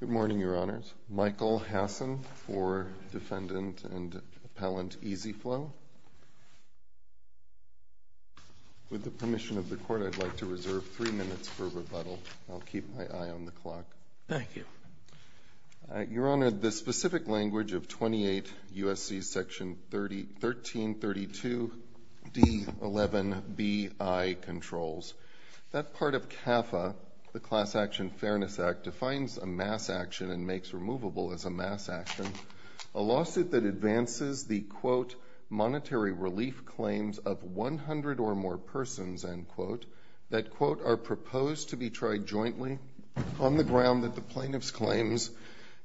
Good morning, Your Honors. Michael Hassan for Defendant and Appellant EZ-FLO. With the permission of the Court, I'd like to reserve three minutes for rebuttal. I'll keep my eye on the clock. Thank you. Your Honor, the specific language of 28 U.S.C. Section 1332 D. 11 B.I. Controls, that part of CAFA, the defines a mass action and makes removable as a mass action, a lawsuit that advances the, quote, monetary relief claims of 100 or more persons, end quote, that, quote, are proposed to be tried jointly on the ground that the plaintiff's claims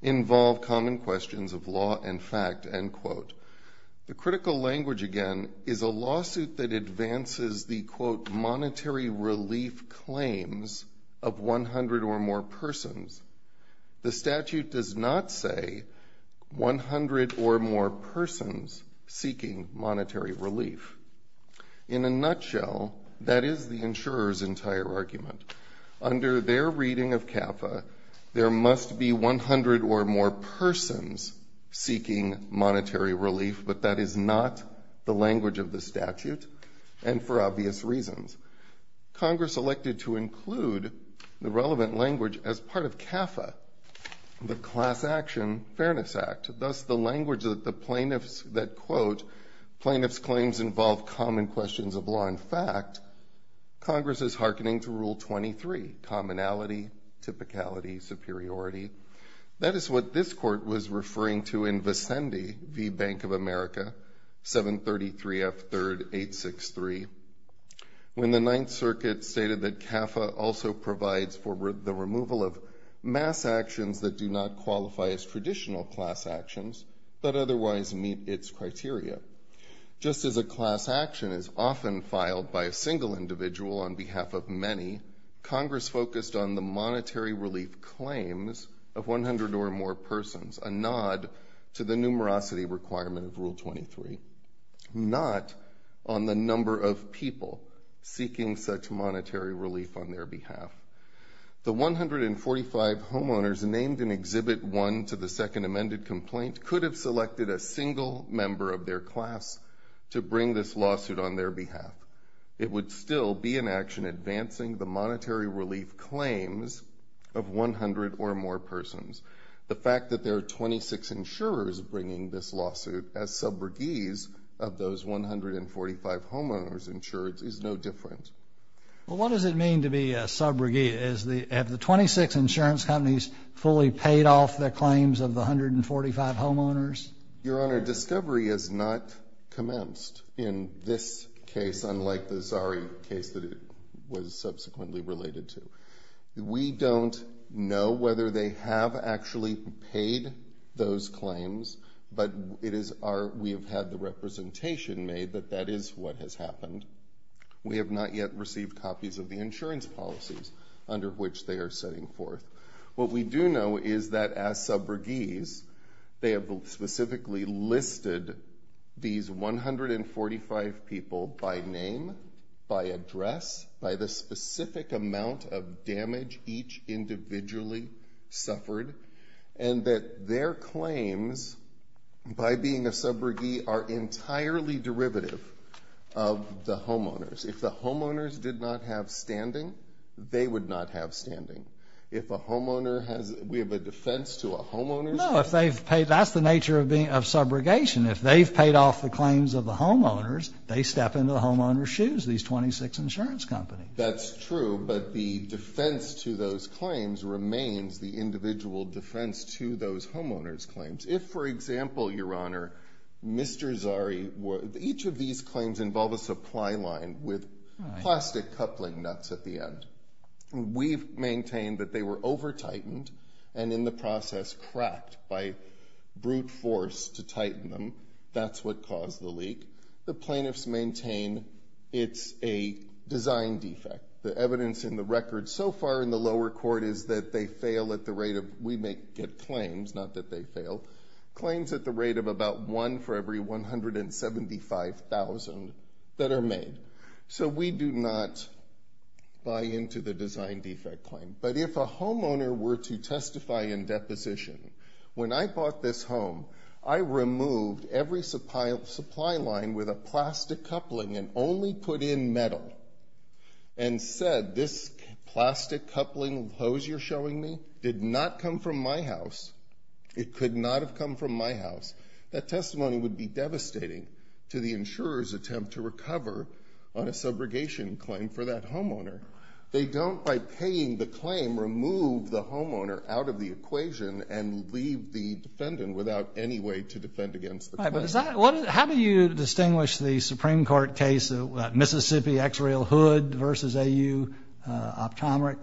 involve common questions of law and fact, end quote. The critical language, again, is a lawsuit that advances the, quote, monetary relief claims of 100 or more persons. The statute does not say 100 or more persons seeking monetary relief. In a nutshell, that is the insurer's entire argument. Under their reading of CAFA, there must be 100 or more persons seeking monetary relief, but that is not the language of the statute, and for obvious reasons. Congress elected to include the relevant language as part of CAFA, the Class Action Fairness Act, thus the language that the plaintiffs that, quote, plaintiff's claims involve common questions of law and fact, Congress is hearkening to Rule 23, commonality, typicality, superiority. That is what this Court was referring to in provides for the removal of mass actions that do not qualify as traditional class actions, but otherwise meet its criteria. Just as a class action is often filed by a single individual on behalf of many, Congress focused on the monetary relief claims of 100 or more persons, a nod to the numerosity requirement of Rule 23, not on the number of people seeking such monetary relief on their behalf. The 145 homeowners named in Exhibit 1 to the second amended complaint could have selected a single member of their class to bring this lawsuit on their behalf. It would still be an action advancing the monetary relief claims of 100 or more persons. The fact that there are 26 insurers bringing this lawsuit as sub-regees of those 145 homeowners insurance is no different. Well, what does it mean to be a sub-regee? Is the, have the 26 insurance companies fully paid off their claims of the 145 homeowners? Your Honor, discovery has not commenced in this case, unlike the Zari case that it was subsequently related to. We don't know whether they have actually paid those claims. We have had the representation made that that is what has happened. We have not yet received copies of the insurance policies under which they are setting forth. What we do know is that as sub-regees, they have specifically listed these 145 people by name, by address, by the specific amount of damage each individually suffered, and that their claims, by being a sub-regee, are entirely derivative of the homeowners. If the homeowners did not have standing, they would not have standing. If a homeowner has, we have a defense to a homeowner. No, if they've paid, that's the nature of being, of subrogation. If they've paid off the claims of the homeowners, they step into the homeowner's shoes, these 26 insurance companies. That's true, but the defense to those claims remains the individual defense to those homeowners' claims. If, for example, Your Honor, Mr. Zari, each of these claims involve a supply line with plastic coupling nuts at the end. We've maintained that they were over-tightened and, in the process, cracked by brute force to tighten them. That's what caused the leak. The plaintiffs maintain it's a design defect. The evidence in the record so far in the lower court is that they fail at the rate of, we may get claims, not that they fail, claims at the rate of about one for every 175,000 that are made. So we do not buy into the design defect claim. But if a homeowner were to testify in deposition, when I bought this home, I removed every supply line with a plastic coupling and only put in metal, and said this plastic coupling hose you're showing me did not come from my house, it could not have come from my house, that testimony would be devastating to the insurer's attempt to recover on a subrogation claim for that homeowner. They don't, by paying the claim, remove the homeowner out of the equation and leave the defendant without any way to defend against the claim. Right, but is that, how do you distinguish the Supreme Court case, Mississippi X-Rail Hood versus AU, optomeric?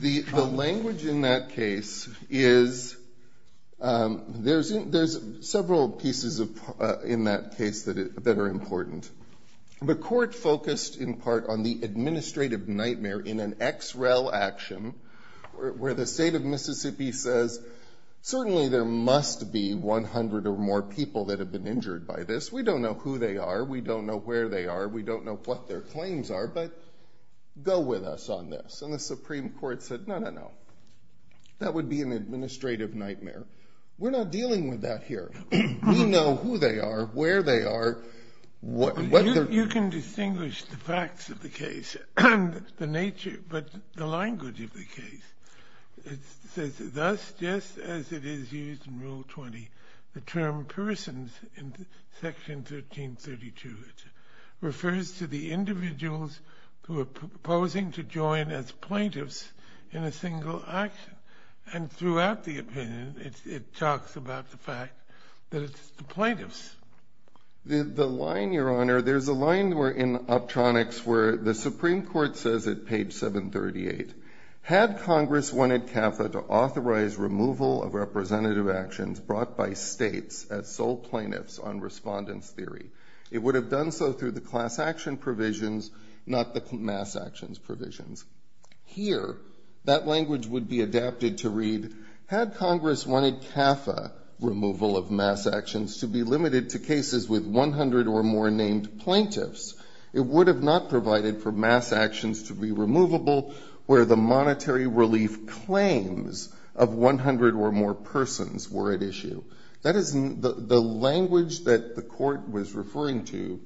The language in that case is, there's several pieces of, in that case that are important. The court focused, in part, on the administrative nightmare in an X-Rail action, where the state of Mississippi says, certainly there must be 100 or more people that have been injured by this. We don't know who they are, we don't know where they are, we don't know what their claims are, but go with us on this. And the Supreme Court said, no, no, no. That would be an administrative nightmare. We're not dealing with that here. We know who they are, where they are, what their claims are. You can distinguish the facts of the case, the nature, but the language of the case. It says, thus, just as it is used in Rule 20, the term persons, in Section 1332, refers to the individuals who are proposing to join as plaintiffs in a single action. And throughout the opinion, it talks about the fact that it's the plaintiffs. The line, Your Honor, there's a line in Optronics where the Supreme Court says at page 738, had Congress wanted CAFA to authorize removal of representative actions brought by states as sole plaintiffs on respondent's theory, it would have done so through the class action provisions, not the mass actions provisions. Here, that language would be adapted to read, had Congress wanted CAFA removal of mass actions to be limited to cases with 100 or more named plaintiffs, it would have not provided for mass actions to be removable where the monetary relief claims of 100 or more persons were at issue. That is the language that the Court was referring to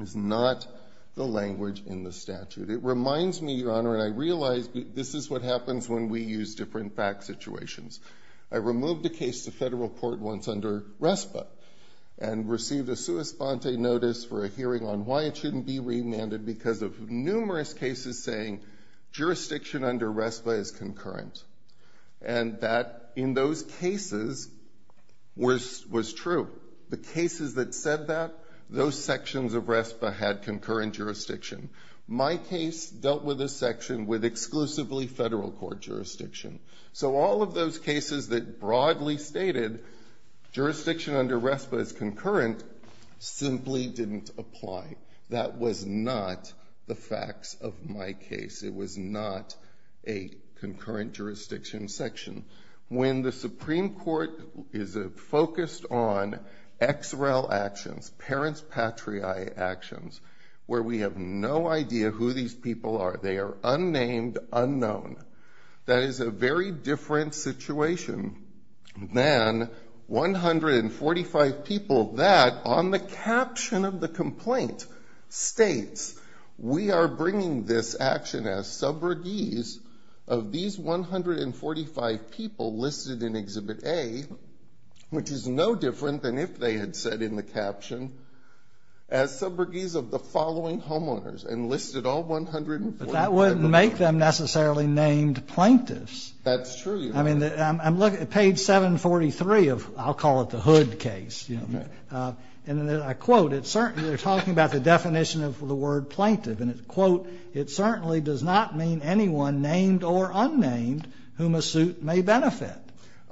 is not the language in the statute. It reminds me, Your Honor, and I realize this is what happens when we use different fact situations. I removed a case to federal court once under RESPA, and received a sua sponte notice for a hearing on why it shouldn't be remanded because of numerous cases saying jurisdiction under RESPA is concurrent. And that, in those cases, was true. The cases that said that, those sections of RESPA had concurrent jurisdiction. My case dealt with a section with exclusively federal court jurisdiction. So all of those cases that broadly stated jurisdiction under RESPA is concurrent simply didn't apply. That was not the facts of my case. It was not a concurrent jurisdiction section. When the Supreme Court is a focused on XREL actions, parents patriae actions, where we have no idea who these people are. They are unnamed, unknown. That is a very different situation than 145 people that, on the caption of the complaint, states, we are bringing this action as subrogies of these 145 people listed in Exhibit A, which is no different than if they had said in the caption, as subrogies of the 145 people. But that wouldn't make them necessarily named plaintiffs. That's true, Your Honor. I mean, I'm looking at page 743 of, I'll call it the Hood case, you know. Okay. And I quote, they're talking about the definition of the word plaintiff. And it's, quote, it certainly does not mean anyone named or unnamed whom a suit may benefit.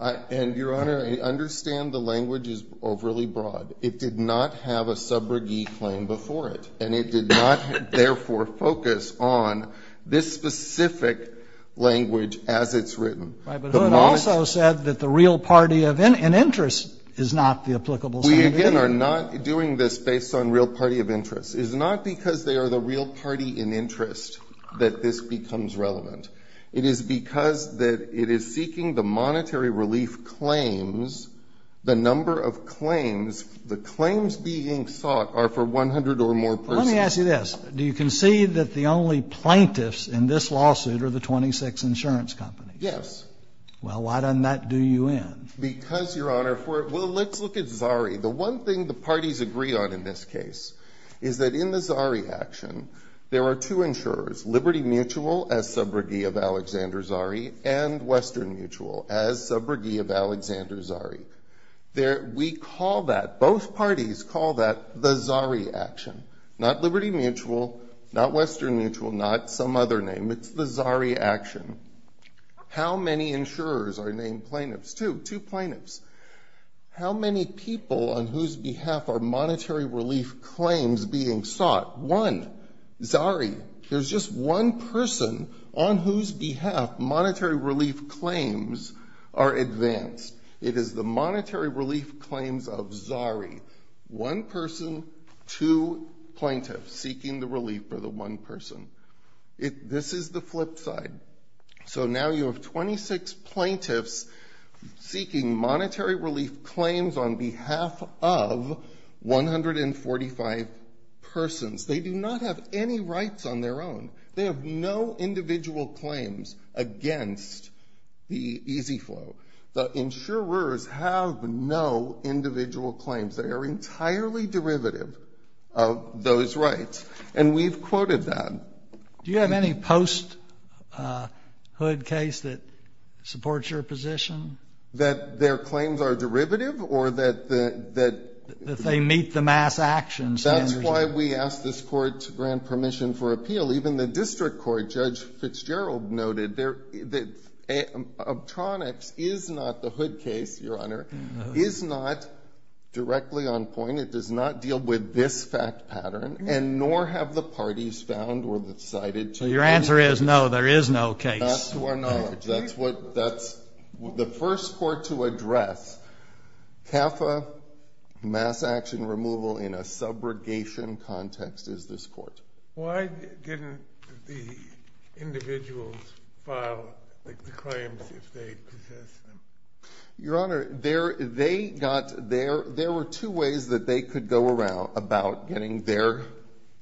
And, Your Honor, understand the language is overly broad. It did not have a subrogie claim before it. And it did not, therefore, focus on this specific language as it's written. Right. But Hood also said that the real party of an interest is not the applicable subrogie. We, again, are not doing this based on real party of interest. It is not because they are the real party in interest that this becomes relevant. It is because that it is seeking the monetary relief claims, the number of claims, the claims being sought are for 100 or more persons. Let me ask you this. Do you concede that the only plaintiffs in this lawsuit are the 26 insurance companies? Yes. Well, why doesn't that do you in? Because, Your Honor, for the let's look at Zari. The one thing the parties agree on in this case is that in the Zari action, there are two insurers, Liberty Mutual as subrogie of Alexander Zari and Western Mutual as subrogie of Alexander Zari. We call that, both parties call that the Zari action, not Liberty Mutual, not Western Mutual, not some other name. It's the Zari action. How many insurers are named plaintiffs? Two. Two plaintiffs. How many people on whose behalf are monetary relief claims being sought? One. Zari. There's just one person on whose behalf monetary relief claims are advanced. It is the monetary relief claims of Zari. One person, two plaintiffs seeking the relief for the one person. This is the flip side. So now you have 26 plaintiffs seeking monetary relief claims on behalf of 145 persons. They do not have any rights on their own. They have no individual claims against the EZ Flow. The insurers have no individual claims. They are entirely derivative of those rights. And we've quoted that. Do you have any post-Hood case that supports your position? That their claims are derivative or that the, that That they meet the mass actions. That's why we asked this Court to grant permission for appeal. Even the district court, Judge Fitzgerald noted, that Obtronics is not the Hood case, your Honor, is not directly on point. It does not deal with this fact pattern and nor have the parties found or decided to. So your answer is no, there is no case. That's to our knowledge. That's what, that's the first court to address. CAFA mass action removal in a subrogation context is this court. Why didn't the individuals file the claims if they possessed them? Your Honor, there, they got their, there were two ways that they could go around about getting their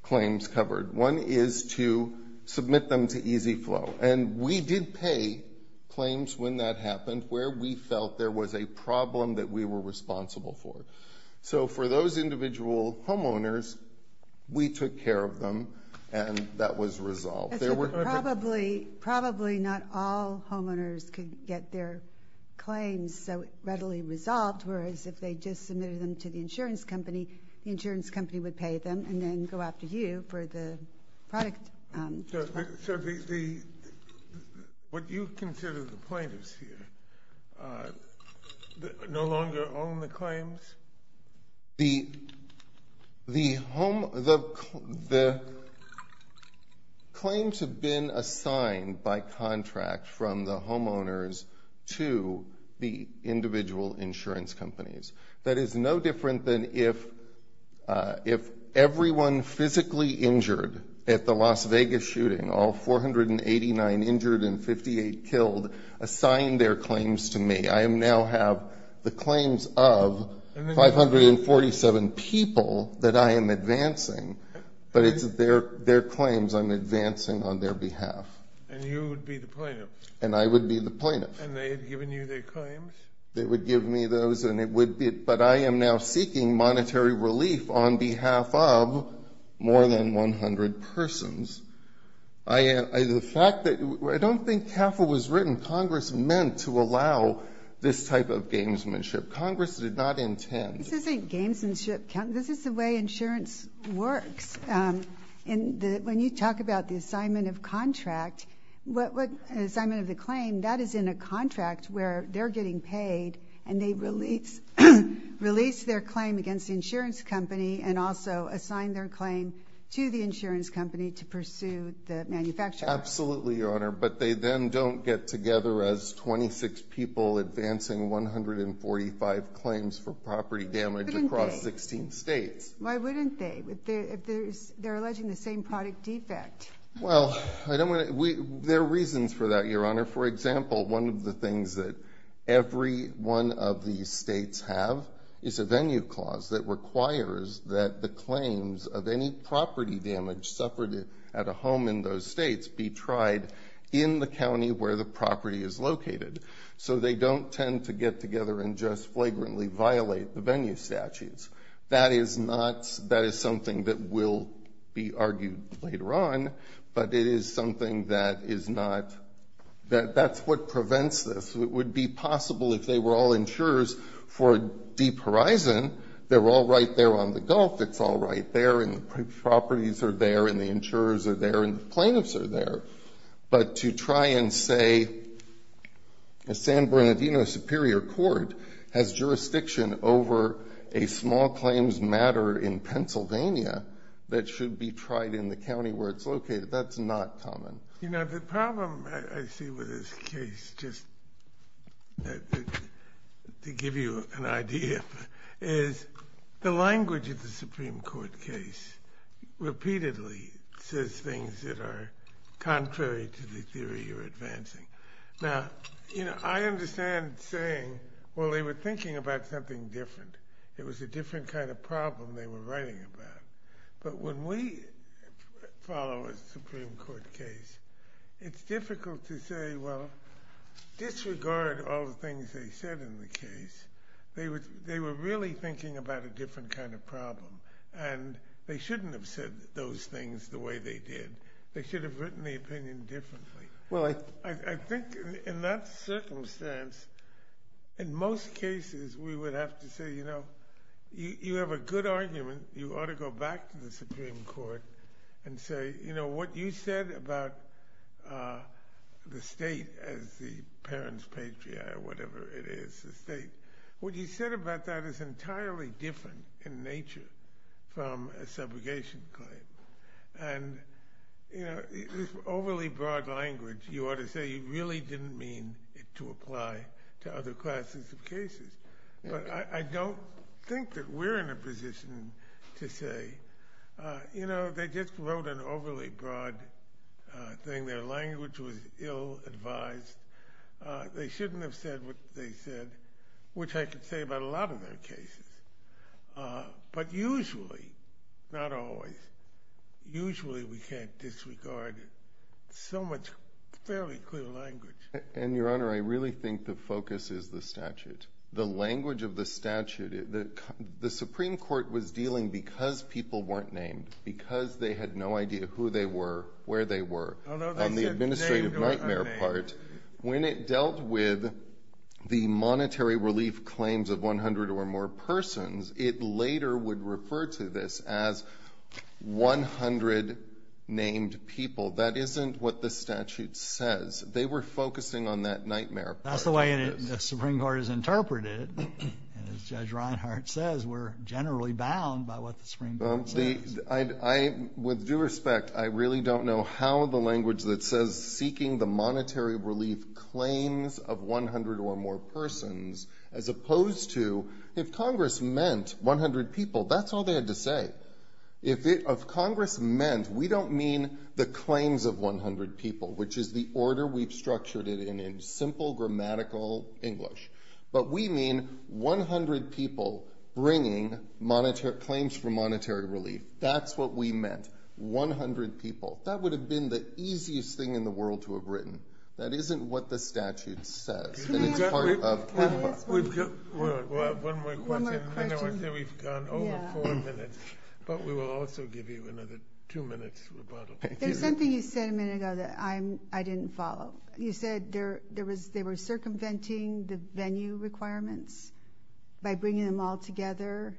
claims covered. One is to submit them to EZ Flow. And we did pay claims when that happened where we felt there was a problem that we were And that was resolved. There were probably, probably not all homeowners could get their claims so readily resolved. Whereas if they just submitted them to the insurance company, the insurance company would pay them and then go after you for the product. So the, what you consider the plaintiffs here no longer own the claims? The, the home, the, the claims have been assigned by contract from the homeowners to the individual insurance companies. That is no different than if, if everyone physically injured at the Las Vegas shooting, all 489 injured and 58 killed, assigned their claims to me. I am now have the claims of 547 people that I am advancing, but it's their, their claims I'm advancing on their behalf. And you would be the plaintiff? And I would be the plaintiff. And they had given you their claims? They would give me those and it would be, but I am now seeking monetary relief on behalf of more than 100 persons. I, the fact that, I don't think CAFL was written, Congress meant to allow this type of gamesmanship. Congress did not intend. This isn't gamesmanship, this is the way insurance works. And the, when you talk about the assignment of contract, what, what assignment of the claim that is in a contract where they're getting paid and they release, release their claim against the insurance company and also assign their claim to the insurance company to pursue the manufacturer. Absolutely, Your Honor, but they then don't get together as 26 people advancing 145 claims for property damage across 16 states. Why wouldn't they? They're alleging the same product defect. Well, I don't want to, we, there are reasons for that, Your Honor. For example, one of the things that every one of these states have is a venue clause that requires that the claims of any property damage suffered at a home in those states be tried in the county where the property is located. So they don't tend to get together and just flagrantly violate the venue statutes. That is not, that is something that will be argued later on, but it is something that is not, that, that's what prevents this. It would be possible if they were all insurers for Deep Horizon, they're all right there on the Gulf, it's all right there and the properties are there and the insurers are there and the plaintiffs are there, but to try and say a San Bernardino Superior Court has jurisdiction over a small claims matter in Pennsylvania that should be tried in the county where it's located, that's not common. You know, the problem I see with this case, just to give you an idea, is the things that are contrary to the theory you're advancing. Now, you know, I understand saying, well, they were thinking about something different. It was a different kind of problem they were writing about. But when we follow a Supreme Court case, it's difficult to say, well, disregard all the things they said in the case. They were really thinking about a different kind of problem and they shouldn't have said those things the way they did. They should have written the opinion differently. Well, I think in that circumstance, in most cases, we would have to say, you know, you have a good argument. You ought to go back to the Supreme Court and say, you know, what you said about the state as the parent's patriarch, whatever it is, the state, what you said about that is entirely different in nature from a subrogation claim. And, you know, this overly broad language, you ought to say, really didn't mean it to apply to other classes of cases. But I don't think that we're in a position to say, you know, they just wrote an overly broad thing. Their language was ill advised. They shouldn't have said what they said, which I could say about a lot of their cases. But usually, not always, usually we can't disregard so much fairly clear language. And, Your Honor, I really think the focus is the statute. The language of the statute, the Supreme Court was dealing because people weren't named, because they had no idea who they were, where they were, on the administrative nightmare part. When it dealt with the monetary relief claims of 100 or more persons, it later would refer to this as 100 named people. That isn't what the statute says. They were focusing on that nightmare part. That's the way the Supreme Court has interpreted it. And as Judge Reinhart says, we're generally bound by what the Supreme Court says. I, with due respect, I really don't know how the language that says seeking the monetary relief claims of 100 or more persons, as opposed to if Congress meant 100 people, that's all they had to say. If Congress meant, we don't mean the claims of 100 people, which is the order we've structured it in, in simple grammatical English. But we mean 100 people bringing claims for monetary relief. That's what we meant. 100 people. That would have been the easiest thing in the world to have written. That isn't what the statute says. And it's part of Canada. One more question. I know we've gone over four minutes, but we will also give you another two minutes rebuttal. There's something you said a minute ago that I didn't follow. You said there was, they were circumventing the venue requirements by bringing them all together.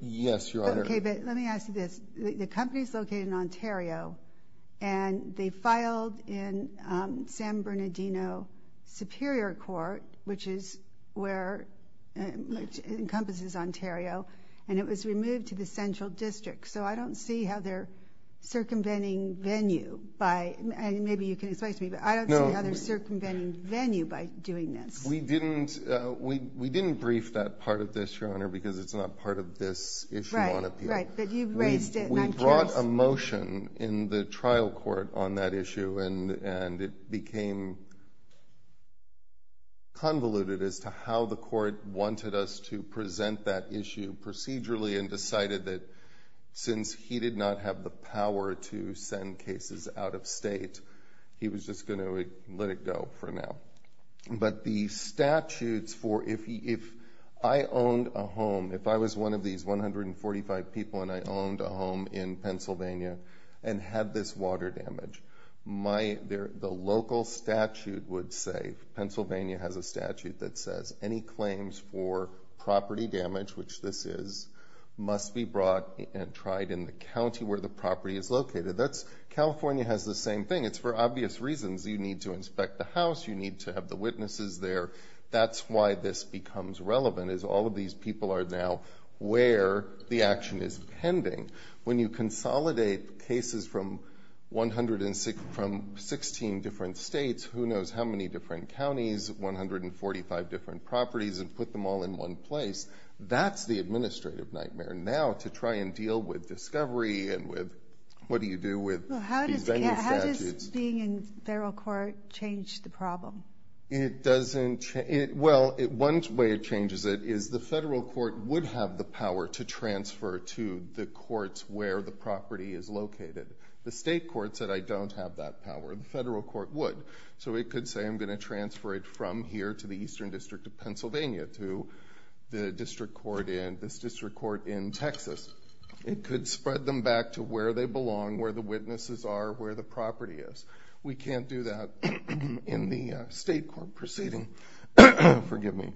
Yes, Your Honor. Okay, but let me ask you this. The company's located in Ontario, and they filed in San Bernardino Superior Court, which is where, which encompasses Ontario, and it was removed to the central district. So I don't see how they're circumventing venue by, and maybe you can explain to me, but I don't see how they're circumventing venue by doing this. We didn't, we didn't brief that part of this, Your Honor, because it's not part of this issue on appeal. Right, but you've raised it, and I'm curious. We brought a motion in the trial court on that issue, and it became convoluted as to how the court wanted us to present that issue procedurally and decided that since he did not have the power to send cases out of state, he was just going to let it go for now. But the statutes for, if he, if I owned a home, if I was one of these 145 people, and I owned a home in Pennsylvania and had this water damage, my, the local statute would say, Pennsylvania has a statute that says, any claims for property damage, which this is, must be brought and tried in the county where the property is located. That's, California has the same thing. It's for obvious reasons. You need to inspect the house. You need to have the witnesses there. That's why this becomes relevant, is all of these people are now where the action is pending. When you consolidate cases from 116, from 16 different states, who knows how many different counties, 145 different properties, and put them all in one place, that's the administrative nightmare. Now, to try and deal with discovery and with, what do you do with these statutes? Yeah, how does being in federal court change the problem? It doesn't, it, well, one way it changes it is the federal court would have the power to transfer to the courts where the property is located. The state court said, I don't have that power. The federal court would. So it could say, I'm going to transfer it from here to the Eastern District of Pennsylvania, to the district court in, this district court in Texas. It could spread them back to where they belong, where the witnesses are, where the property is. We can't do that in the state court proceeding. Forgive me.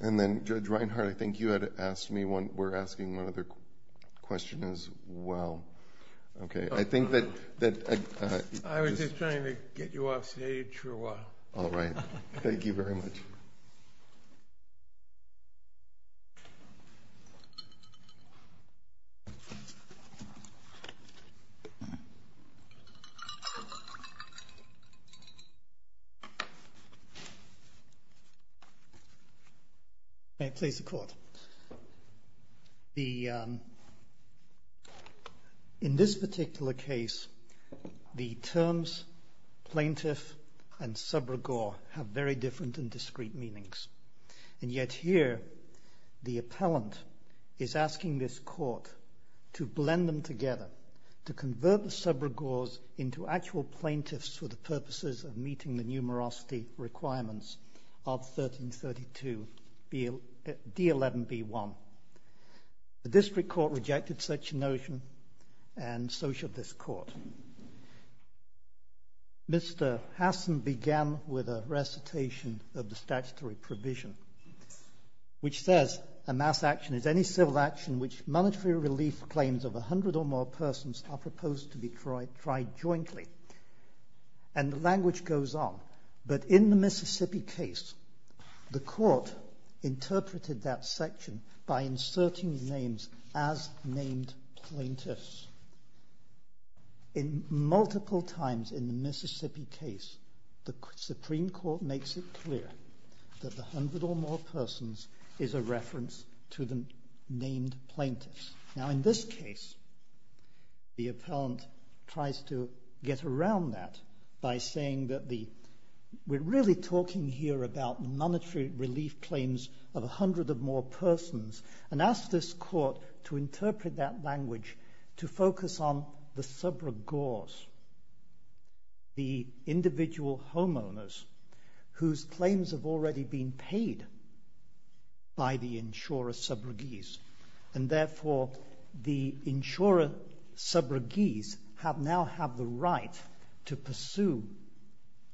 And then, Judge Reinhart, I think you had asked me one, we're asking one other question as well. Okay. I think that. I was just trying to get you off stage for a while. All right. Thank you very much. May I please the court? The, in this particular case, the terms plaintiff and sub-regor have very different and discrete meanings. And yet here, the appellant is asking this court to blend them together, to convert the sub-regors into actual plaintiffs for the purposes of meeting the numerosity requirements of 1332 D11B1. The district court rejected such a notion and so should this court. Mr. Hassan began with a recitation of the statutory provision, which says a mass action is any civil action which monetary relief claims of a hundred or more persons are proposed to be tried jointly. And the language goes on, but in the Mississippi case, the court interpreted that section by inserting the names as named plaintiffs. In multiple times in the Mississippi case, the Supreme Court makes it clear that the hundred or more persons is a reference to the named plaintiffs. Now, in this case, the appellant tries to get around that by saying that the, we're really talking here about monetary relief claims of a hundred or more plaintiffs, we focus on the sub-regors, the individual homeowners whose claims have already been paid by the insurer sub-regis. And therefore, the insurer sub-regis have now have the right to pursue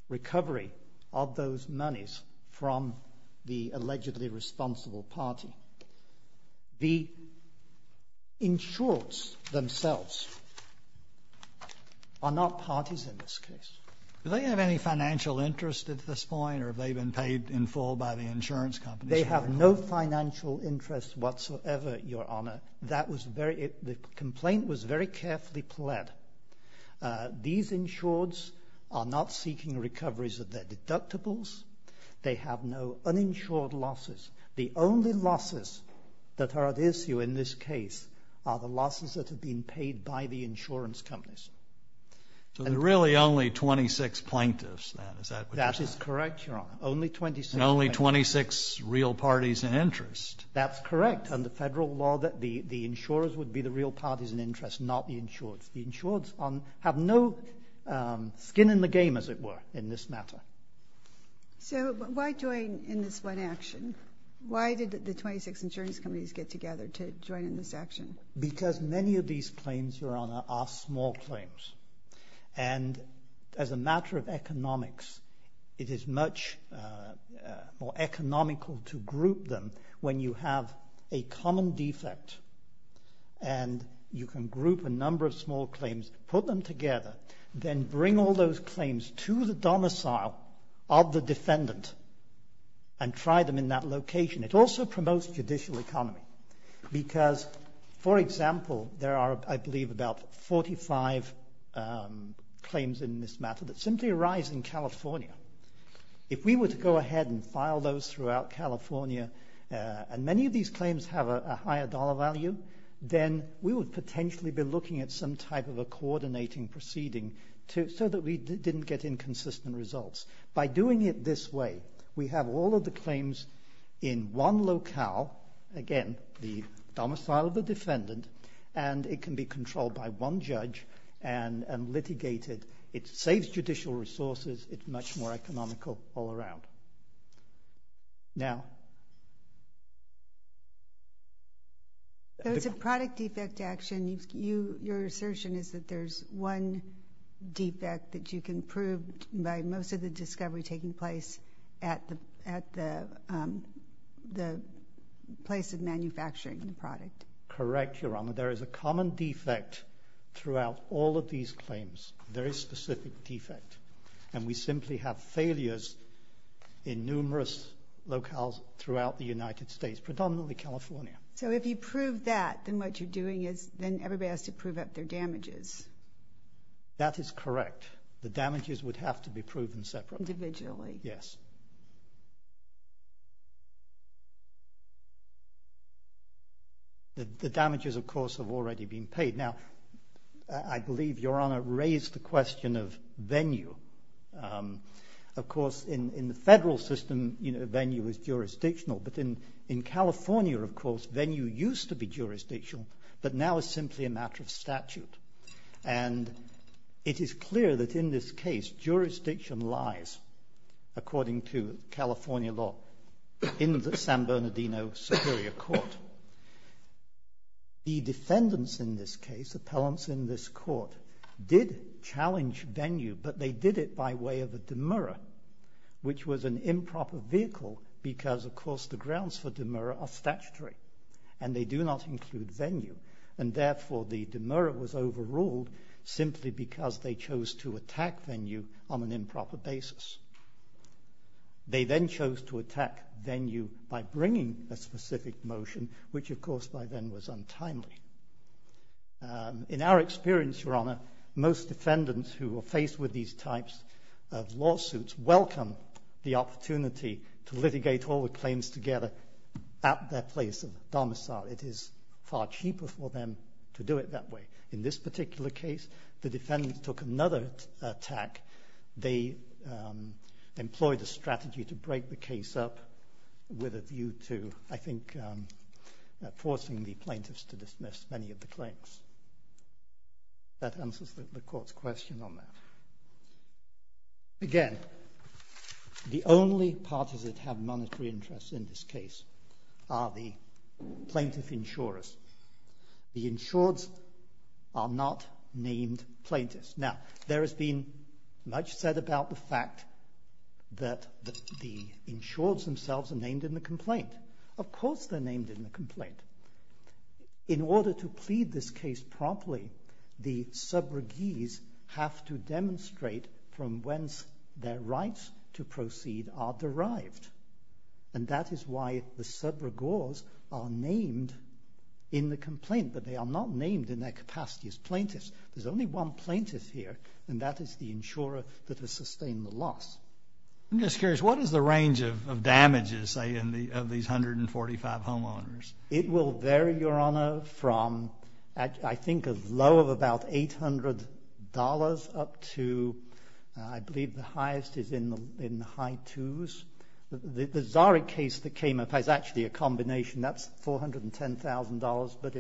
recovery of those monies from the allegedly responsible party. The insurers themselves are not parties in this case. Do they have any financial interest at this point or have they been paid in full by the insurance companies? They have no financial interest whatsoever, Your Honor. That was very, the complaint was very carefully pled. These insureds are not seeking recoveries of their deductibles. They have no uninsured losses. The only losses that are at issue in this case are the losses that have been paid by the insurance companies. So there are really only 26 plaintiffs then, is that what you're saying? That is correct, Your Honor. Only 26. Only 26 real parties in interest. That's correct. Under federal law, the insurers would be the real parties in interest, not the insureds. The insureds have no skin in the game, as it were, in this matter. So why join in this one action? Why did the 26 insurance companies get together to join in this action? Because many of these claims, Your Honor, are small claims. And as a matter of economics, it is much more economical to group them when you have a common defect. And you can group a number of small claims, put them together, then bring all those claims to the domicile of the defendant and try them in that location. It also promotes judicial economy because, for example, there are, I believe, about 45 claims in this matter that simply arise in California. If we were to go ahead and file those throughout California, and many of these claims have a higher dollar value, then we would potentially be looking at some type of a coordinating proceeding so that we didn't get inconsistent results. By doing it this way, we have all of the claims in one locale, again, the domicile of the defendant, and it can be controlled by one judge and litigated. It saves judicial resources. It's much more economical all around. Now... It's a product defect action. Your assertion is that there's one defect that you can prove by most of the discovery taking place at the place of manufacturing the product. Correct, Your Honor. There is a common defect throughout all of these claims, a very specific defect. And we simply have failures in numerous locales throughout the United States, predominantly California. So if you prove that, then what you're doing is, then everybody has to prove up their damages. That is correct. The damages would have to be proven separately. Individually. Yes. The damages, of course, have already been paid. Now, I believe Your Honor raised the question of venue. Of course, in the federal system, venue is jurisdictional. But in California, of course, venue used to be jurisdictional, but now is simply a matter of statute. And it is clear that in this case, jurisdiction lies, according to California law, in the San Bernardino Superior Court. The defendants in this case, appellants in this court, did challenge venue, but they did it by way of a demurra, which was an improper vehicle, because, of course, the grounds for demurra are statutory. And they do not include venue. And therefore, the demurra was overruled, simply because they chose to attack venue on an improper basis. They then chose to attack venue by bringing a specific motion, which, of course, by then was untimely. In our experience, Your Honor, most defendants who are faced with these types of lawsuits welcome the opportunity to litigate all the claims together at their place of domicile. It is far cheaper for them to do it that way. In this particular case, the defendants took another attack. They employed a strategy to break the case up with a view to, I think, forcing the plaintiffs to dismiss many of the claims. That answers the court's question on that. Again, the only parties that have monetary interests in this case are the plaintiff insurers. The insureds are not named plaintiffs. Now, there has been much said about the fact that the insureds themselves are named in the complaint. Of course, they're named in the complaint. In order to plead this case properly, the subregees have to demonstrate from whence their rights to proceed are derived. And that is why the subregors are named in the complaint, but they are not named in their capacity as plaintiffs. There's only one plaintiff here, and that is the insurer that has sustained the loss. I'm just curious. What is the range of damages, say, of these 145 homeowners? It will vary, Your Honor, from, I think, a low of about $800 up to, I believe, the highest is in the high twos. The Zari case that came up has actually a combination. That's $410,000. But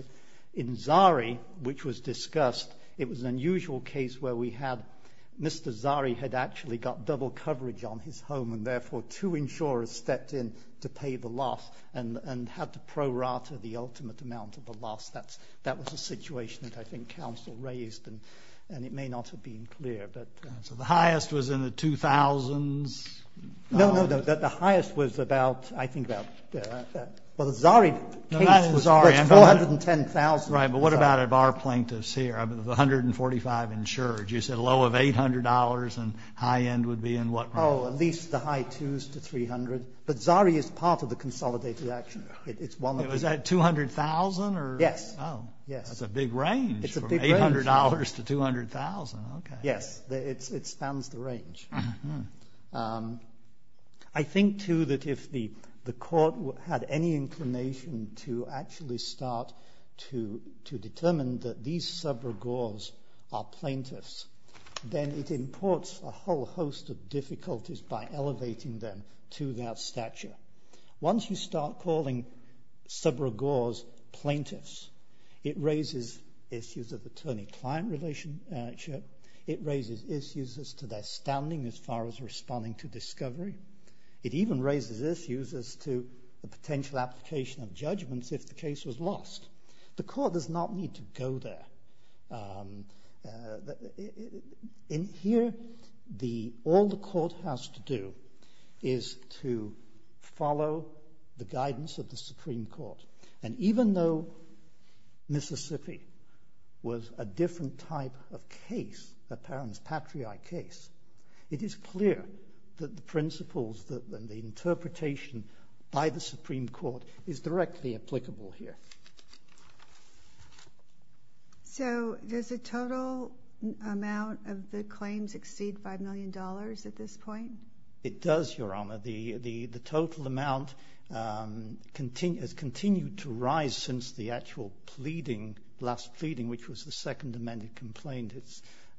in Zari, which was discussed, it was an unusual case where we had Mr. Zari had actually got double coverage on his home, and therefore two insurers stepped in to pay the loss and had to pro rata the ultimate amount of the loss. That was a situation that I think counsel raised, and it may not have been clear, but... So the highest was in the 2000s? No, no, no. The highest was about, I think, about... The Zari case was $410,000. Right. But what about if our plaintiff's here, the 145 insured? You said a low of $800 and high end would be in what range? Oh, at least the high twos to $300,000. But Zari is part of the consolidated action. It's one of the... Is that $200,000 or... Yes. Oh. Yes. That's a big range from $800 to $200,000. Okay. Yes, it spans the range. Mm-hmm. I think, too, that if the court had any inclination to actually start to determine that these sub-regards are plaintiffs, then it imports a whole host of difficulties by elevating them to their stature. Once you start calling sub-regards plaintiffs, it raises issues of attorney-client relationship. It raises issues as to their standing as far as responding to discovery. It even raises issues as to the potential application of judgments if the case was lost. The court does not need to go there. In here, all the court has to do is to follow the guidance of the Supreme Court. And even though Mississippi was a different type of case, a parent's patriae case, it is clear that the principles, that the interpretation by the Supreme Court is directly applicable here. So does the total amount of the claims exceed $5 million at this point? It does, Your Honor. The total amount has continued to rise since the actual last pleading, which was the Second Amendment complaint.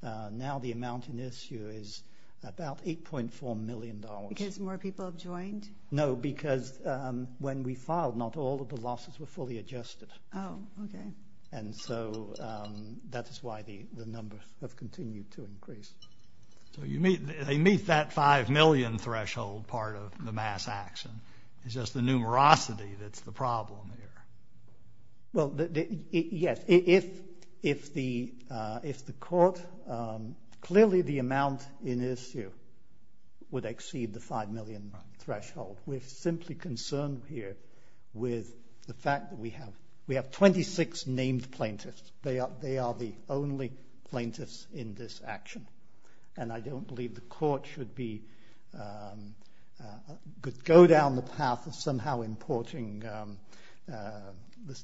Now the amount in issue is about $8.4 million. Because more people have joined? No, because when we filed, not all of the losses were fully adjusted. And so that is why the numbers have continued to increase. So they meet that $5 million threshold part of the mass action. It's just the numerosity that's the problem here. Well, yes. If the court, clearly the amount in issue would exceed the $5 million threshold. We're simply concerned here with the fact that we have 26 named plaintiffs. They are the only plaintiffs in this action. And I don't believe the court should go down the path of somehow importing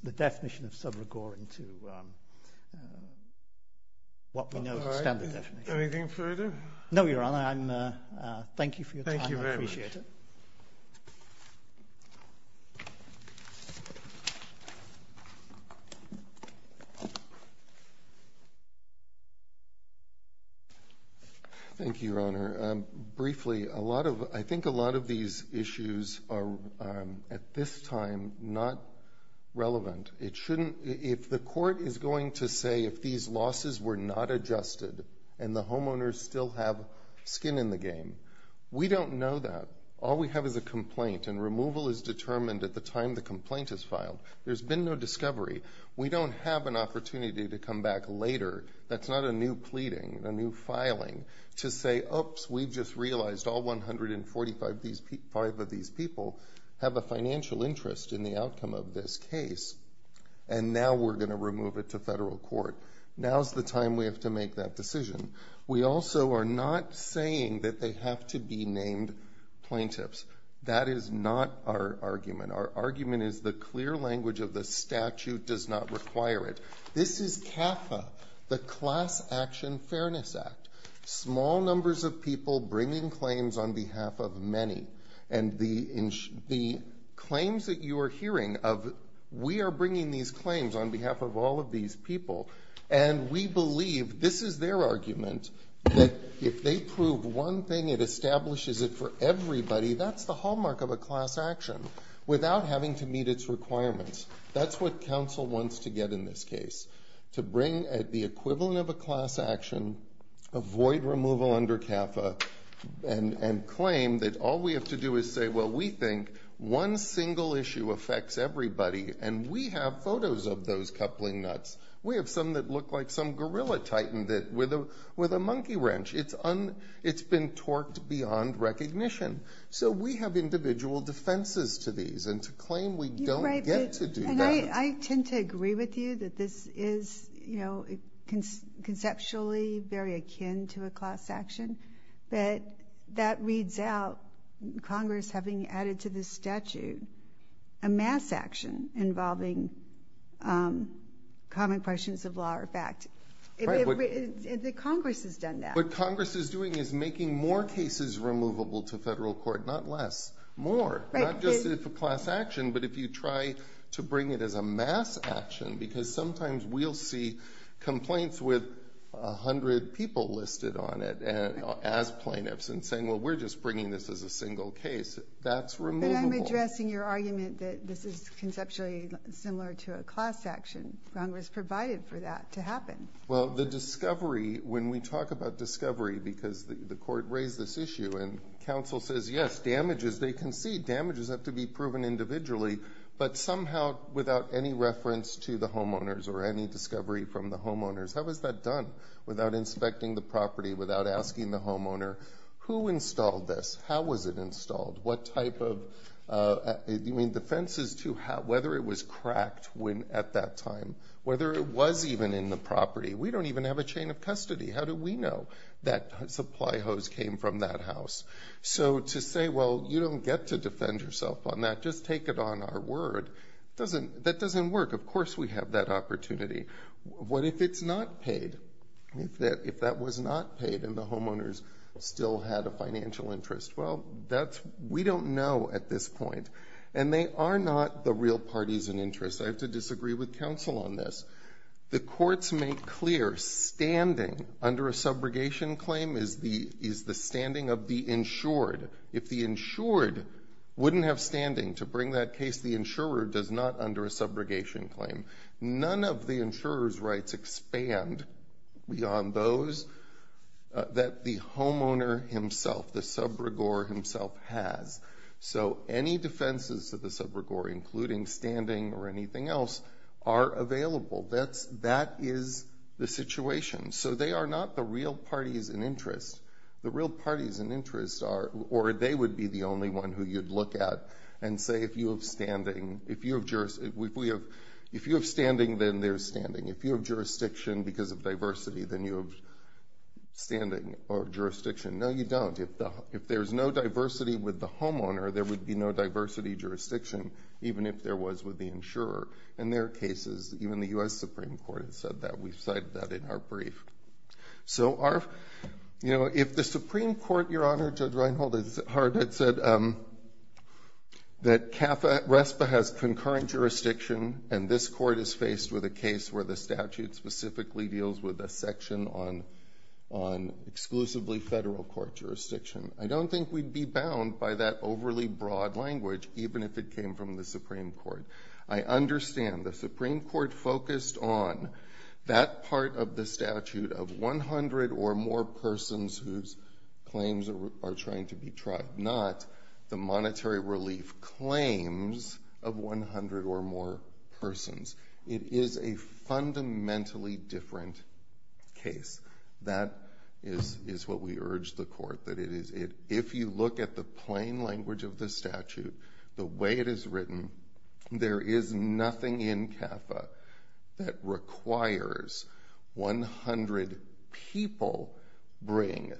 the definition of subrigore into what we know as a standard definition. Anything further? No, Your Honor. Thank you for your time. Thank you very much. I appreciate it. Thank you, Your Honor. Briefly, I think a lot of these issues are at this time not relevant. It shouldn't, if the court is going to say if these losses were not adjusted and the homeowners still have skin in the game, we don't know that. All we have is a complaint and removal is determined at the time the complaint is filed. There's been no discovery. We don't have an opportunity to come back later. That's not a new pleading, a new filing, to say, oops, we've just realized all 145 of these people have a financial interest in the outcome of this case and now we're going to remove it to federal court. Now's the time we have to make that decision. We also are not saying that they have to be named plaintiffs. That is not our argument. Our argument is the clear language of the statute does not require it. This is CAFA, the Class Action Fairness Act. Small numbers of people bringing claims on behalf of many and the claims that you are hearing of we are bringing these claims on behalf of all of these people and we believe this is their argument that if they prove one thing, it establishes it for everybody, that's the hallmark of a class action without having to meet its requirements. That's what council wants to get in this case, to bring the equivalent of a class action, avoid removal under CAFA and claim that all we have to do is say, well, we think one single issue affects everybody and we have photos of those coupling nuts. We have some that look like some gorilla tightened it with a monkey wrench. It's been torqued beyond recognition. So we have individual defenses to these and to claim we don't get to do that. And I tend to agree with you that this is conceptually very akin to a class action, but that reads out Congress having added to this statute a mass action involving common questions of law or fact. The Congress has done that. What Congress is doing is making more cases removable to federal court, not less, more. Not just if a class action, but if you try to bring it as a mass action, because sometimes we'll see complaints with a hundred people listed on it as plaintiffs and saying, well, we're just bringing this as a single case. That's removable. But I'm addressing your argument that this is conceptually similar to a class action. Congress provided for that to happen. Well, the discovery, when we talk about discovery, because the court raised this issue and council says, yes, damages, they can see damages have to be proven individually, but somehow without any reference to the homeowners or any discovery from the homeowners, how was that done without inspecting the property, without asking the homeowner who installed this? How was it installed? What type of, you mean the fences to how, whether it was cracked when at that time, whether it was even in the property. We don't even have a chain of custody. How do we know that supply hose came from that house? So to say, well, you don't get to defend yourself on that. Just take it on our word. That doesn't work. Of course we have that opportunity. What if it's not paid? If that was not paid and the homeowners still had a financial interest? Well, we don't know at this point and they are not the real parties and interests. I have to disagree with council on this. The courts make clear standing under a subrogation claim is the standing of the insured. If the insured wouldn't have standing to bring that case, the insurer does not under a subrogation claim. None of the insurer's rights expand beyond those that the homeowner himself, the subrogore himself has. So any defenses to the subrogore, including standing or anything else are available. That is the situation. So they are not the real parties and interests. The real parties and interests are, or they would be the only one who you'd look at and say, if you have standing, if you have standing, then there's standing. If you have jurisdiction because of diversity, then you have standing or jurisdiction. No, you don't. If there's no diversity with the homeowner, there would be no diversity jurisdiction, even if there was with the insurer. In their cases, even the US Supreme Court has said that. We've cited that in our brief. So our, you know, if the Supreme Court, Your Honor, Judge Reinhold has said that CAFA, RESPA has concurrent jurisdiction and this court is faced with a case where the statute specifically deals with a section on exclusively federal court jurisdiction. I don't think we'd be bound by that overly broad language, even if it came from the Supreme Court. I understand the Supreme Court focused on that part of the statute of 100 or more persons whose claims are trying to be tried, not the monetary relief claims of 100 or more persons. It is a fundamentally different case. That is what we urge the court, that it is, if you look at the plain language of the statute, the way it is written, there is nothing in CAFA that requires 100 people bring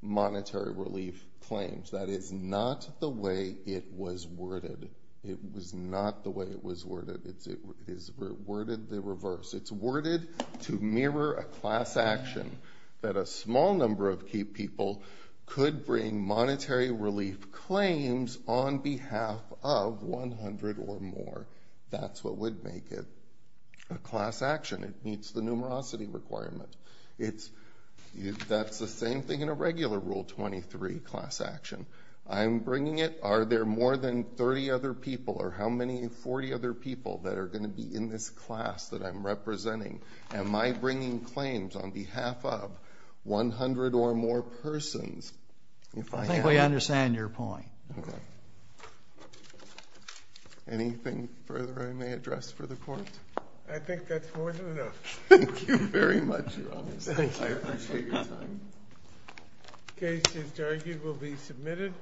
monetary relief claims. That is not the way it was worded. It was not the way it was worded. It is worded the reverse. It's worded to mirror a class action that a small number of key people could bring monetary relief claims on behalf of 100 or more. That's what would make it a class action. It meets the numerosity requirement. That's the same thing in a regular Rule 23 class action. I'm bringing it. Are there more than 30 other people or how many 40 other people that are going to be in this class that I'm representing? Am I bringing claims on behalf of 100 or more persons? I think we understand your point. Anything further I may address for the court? I think that's more than enough. Thank you very much, Your Honor. Thank you. I appreciate your time. The case is argued will be submitted.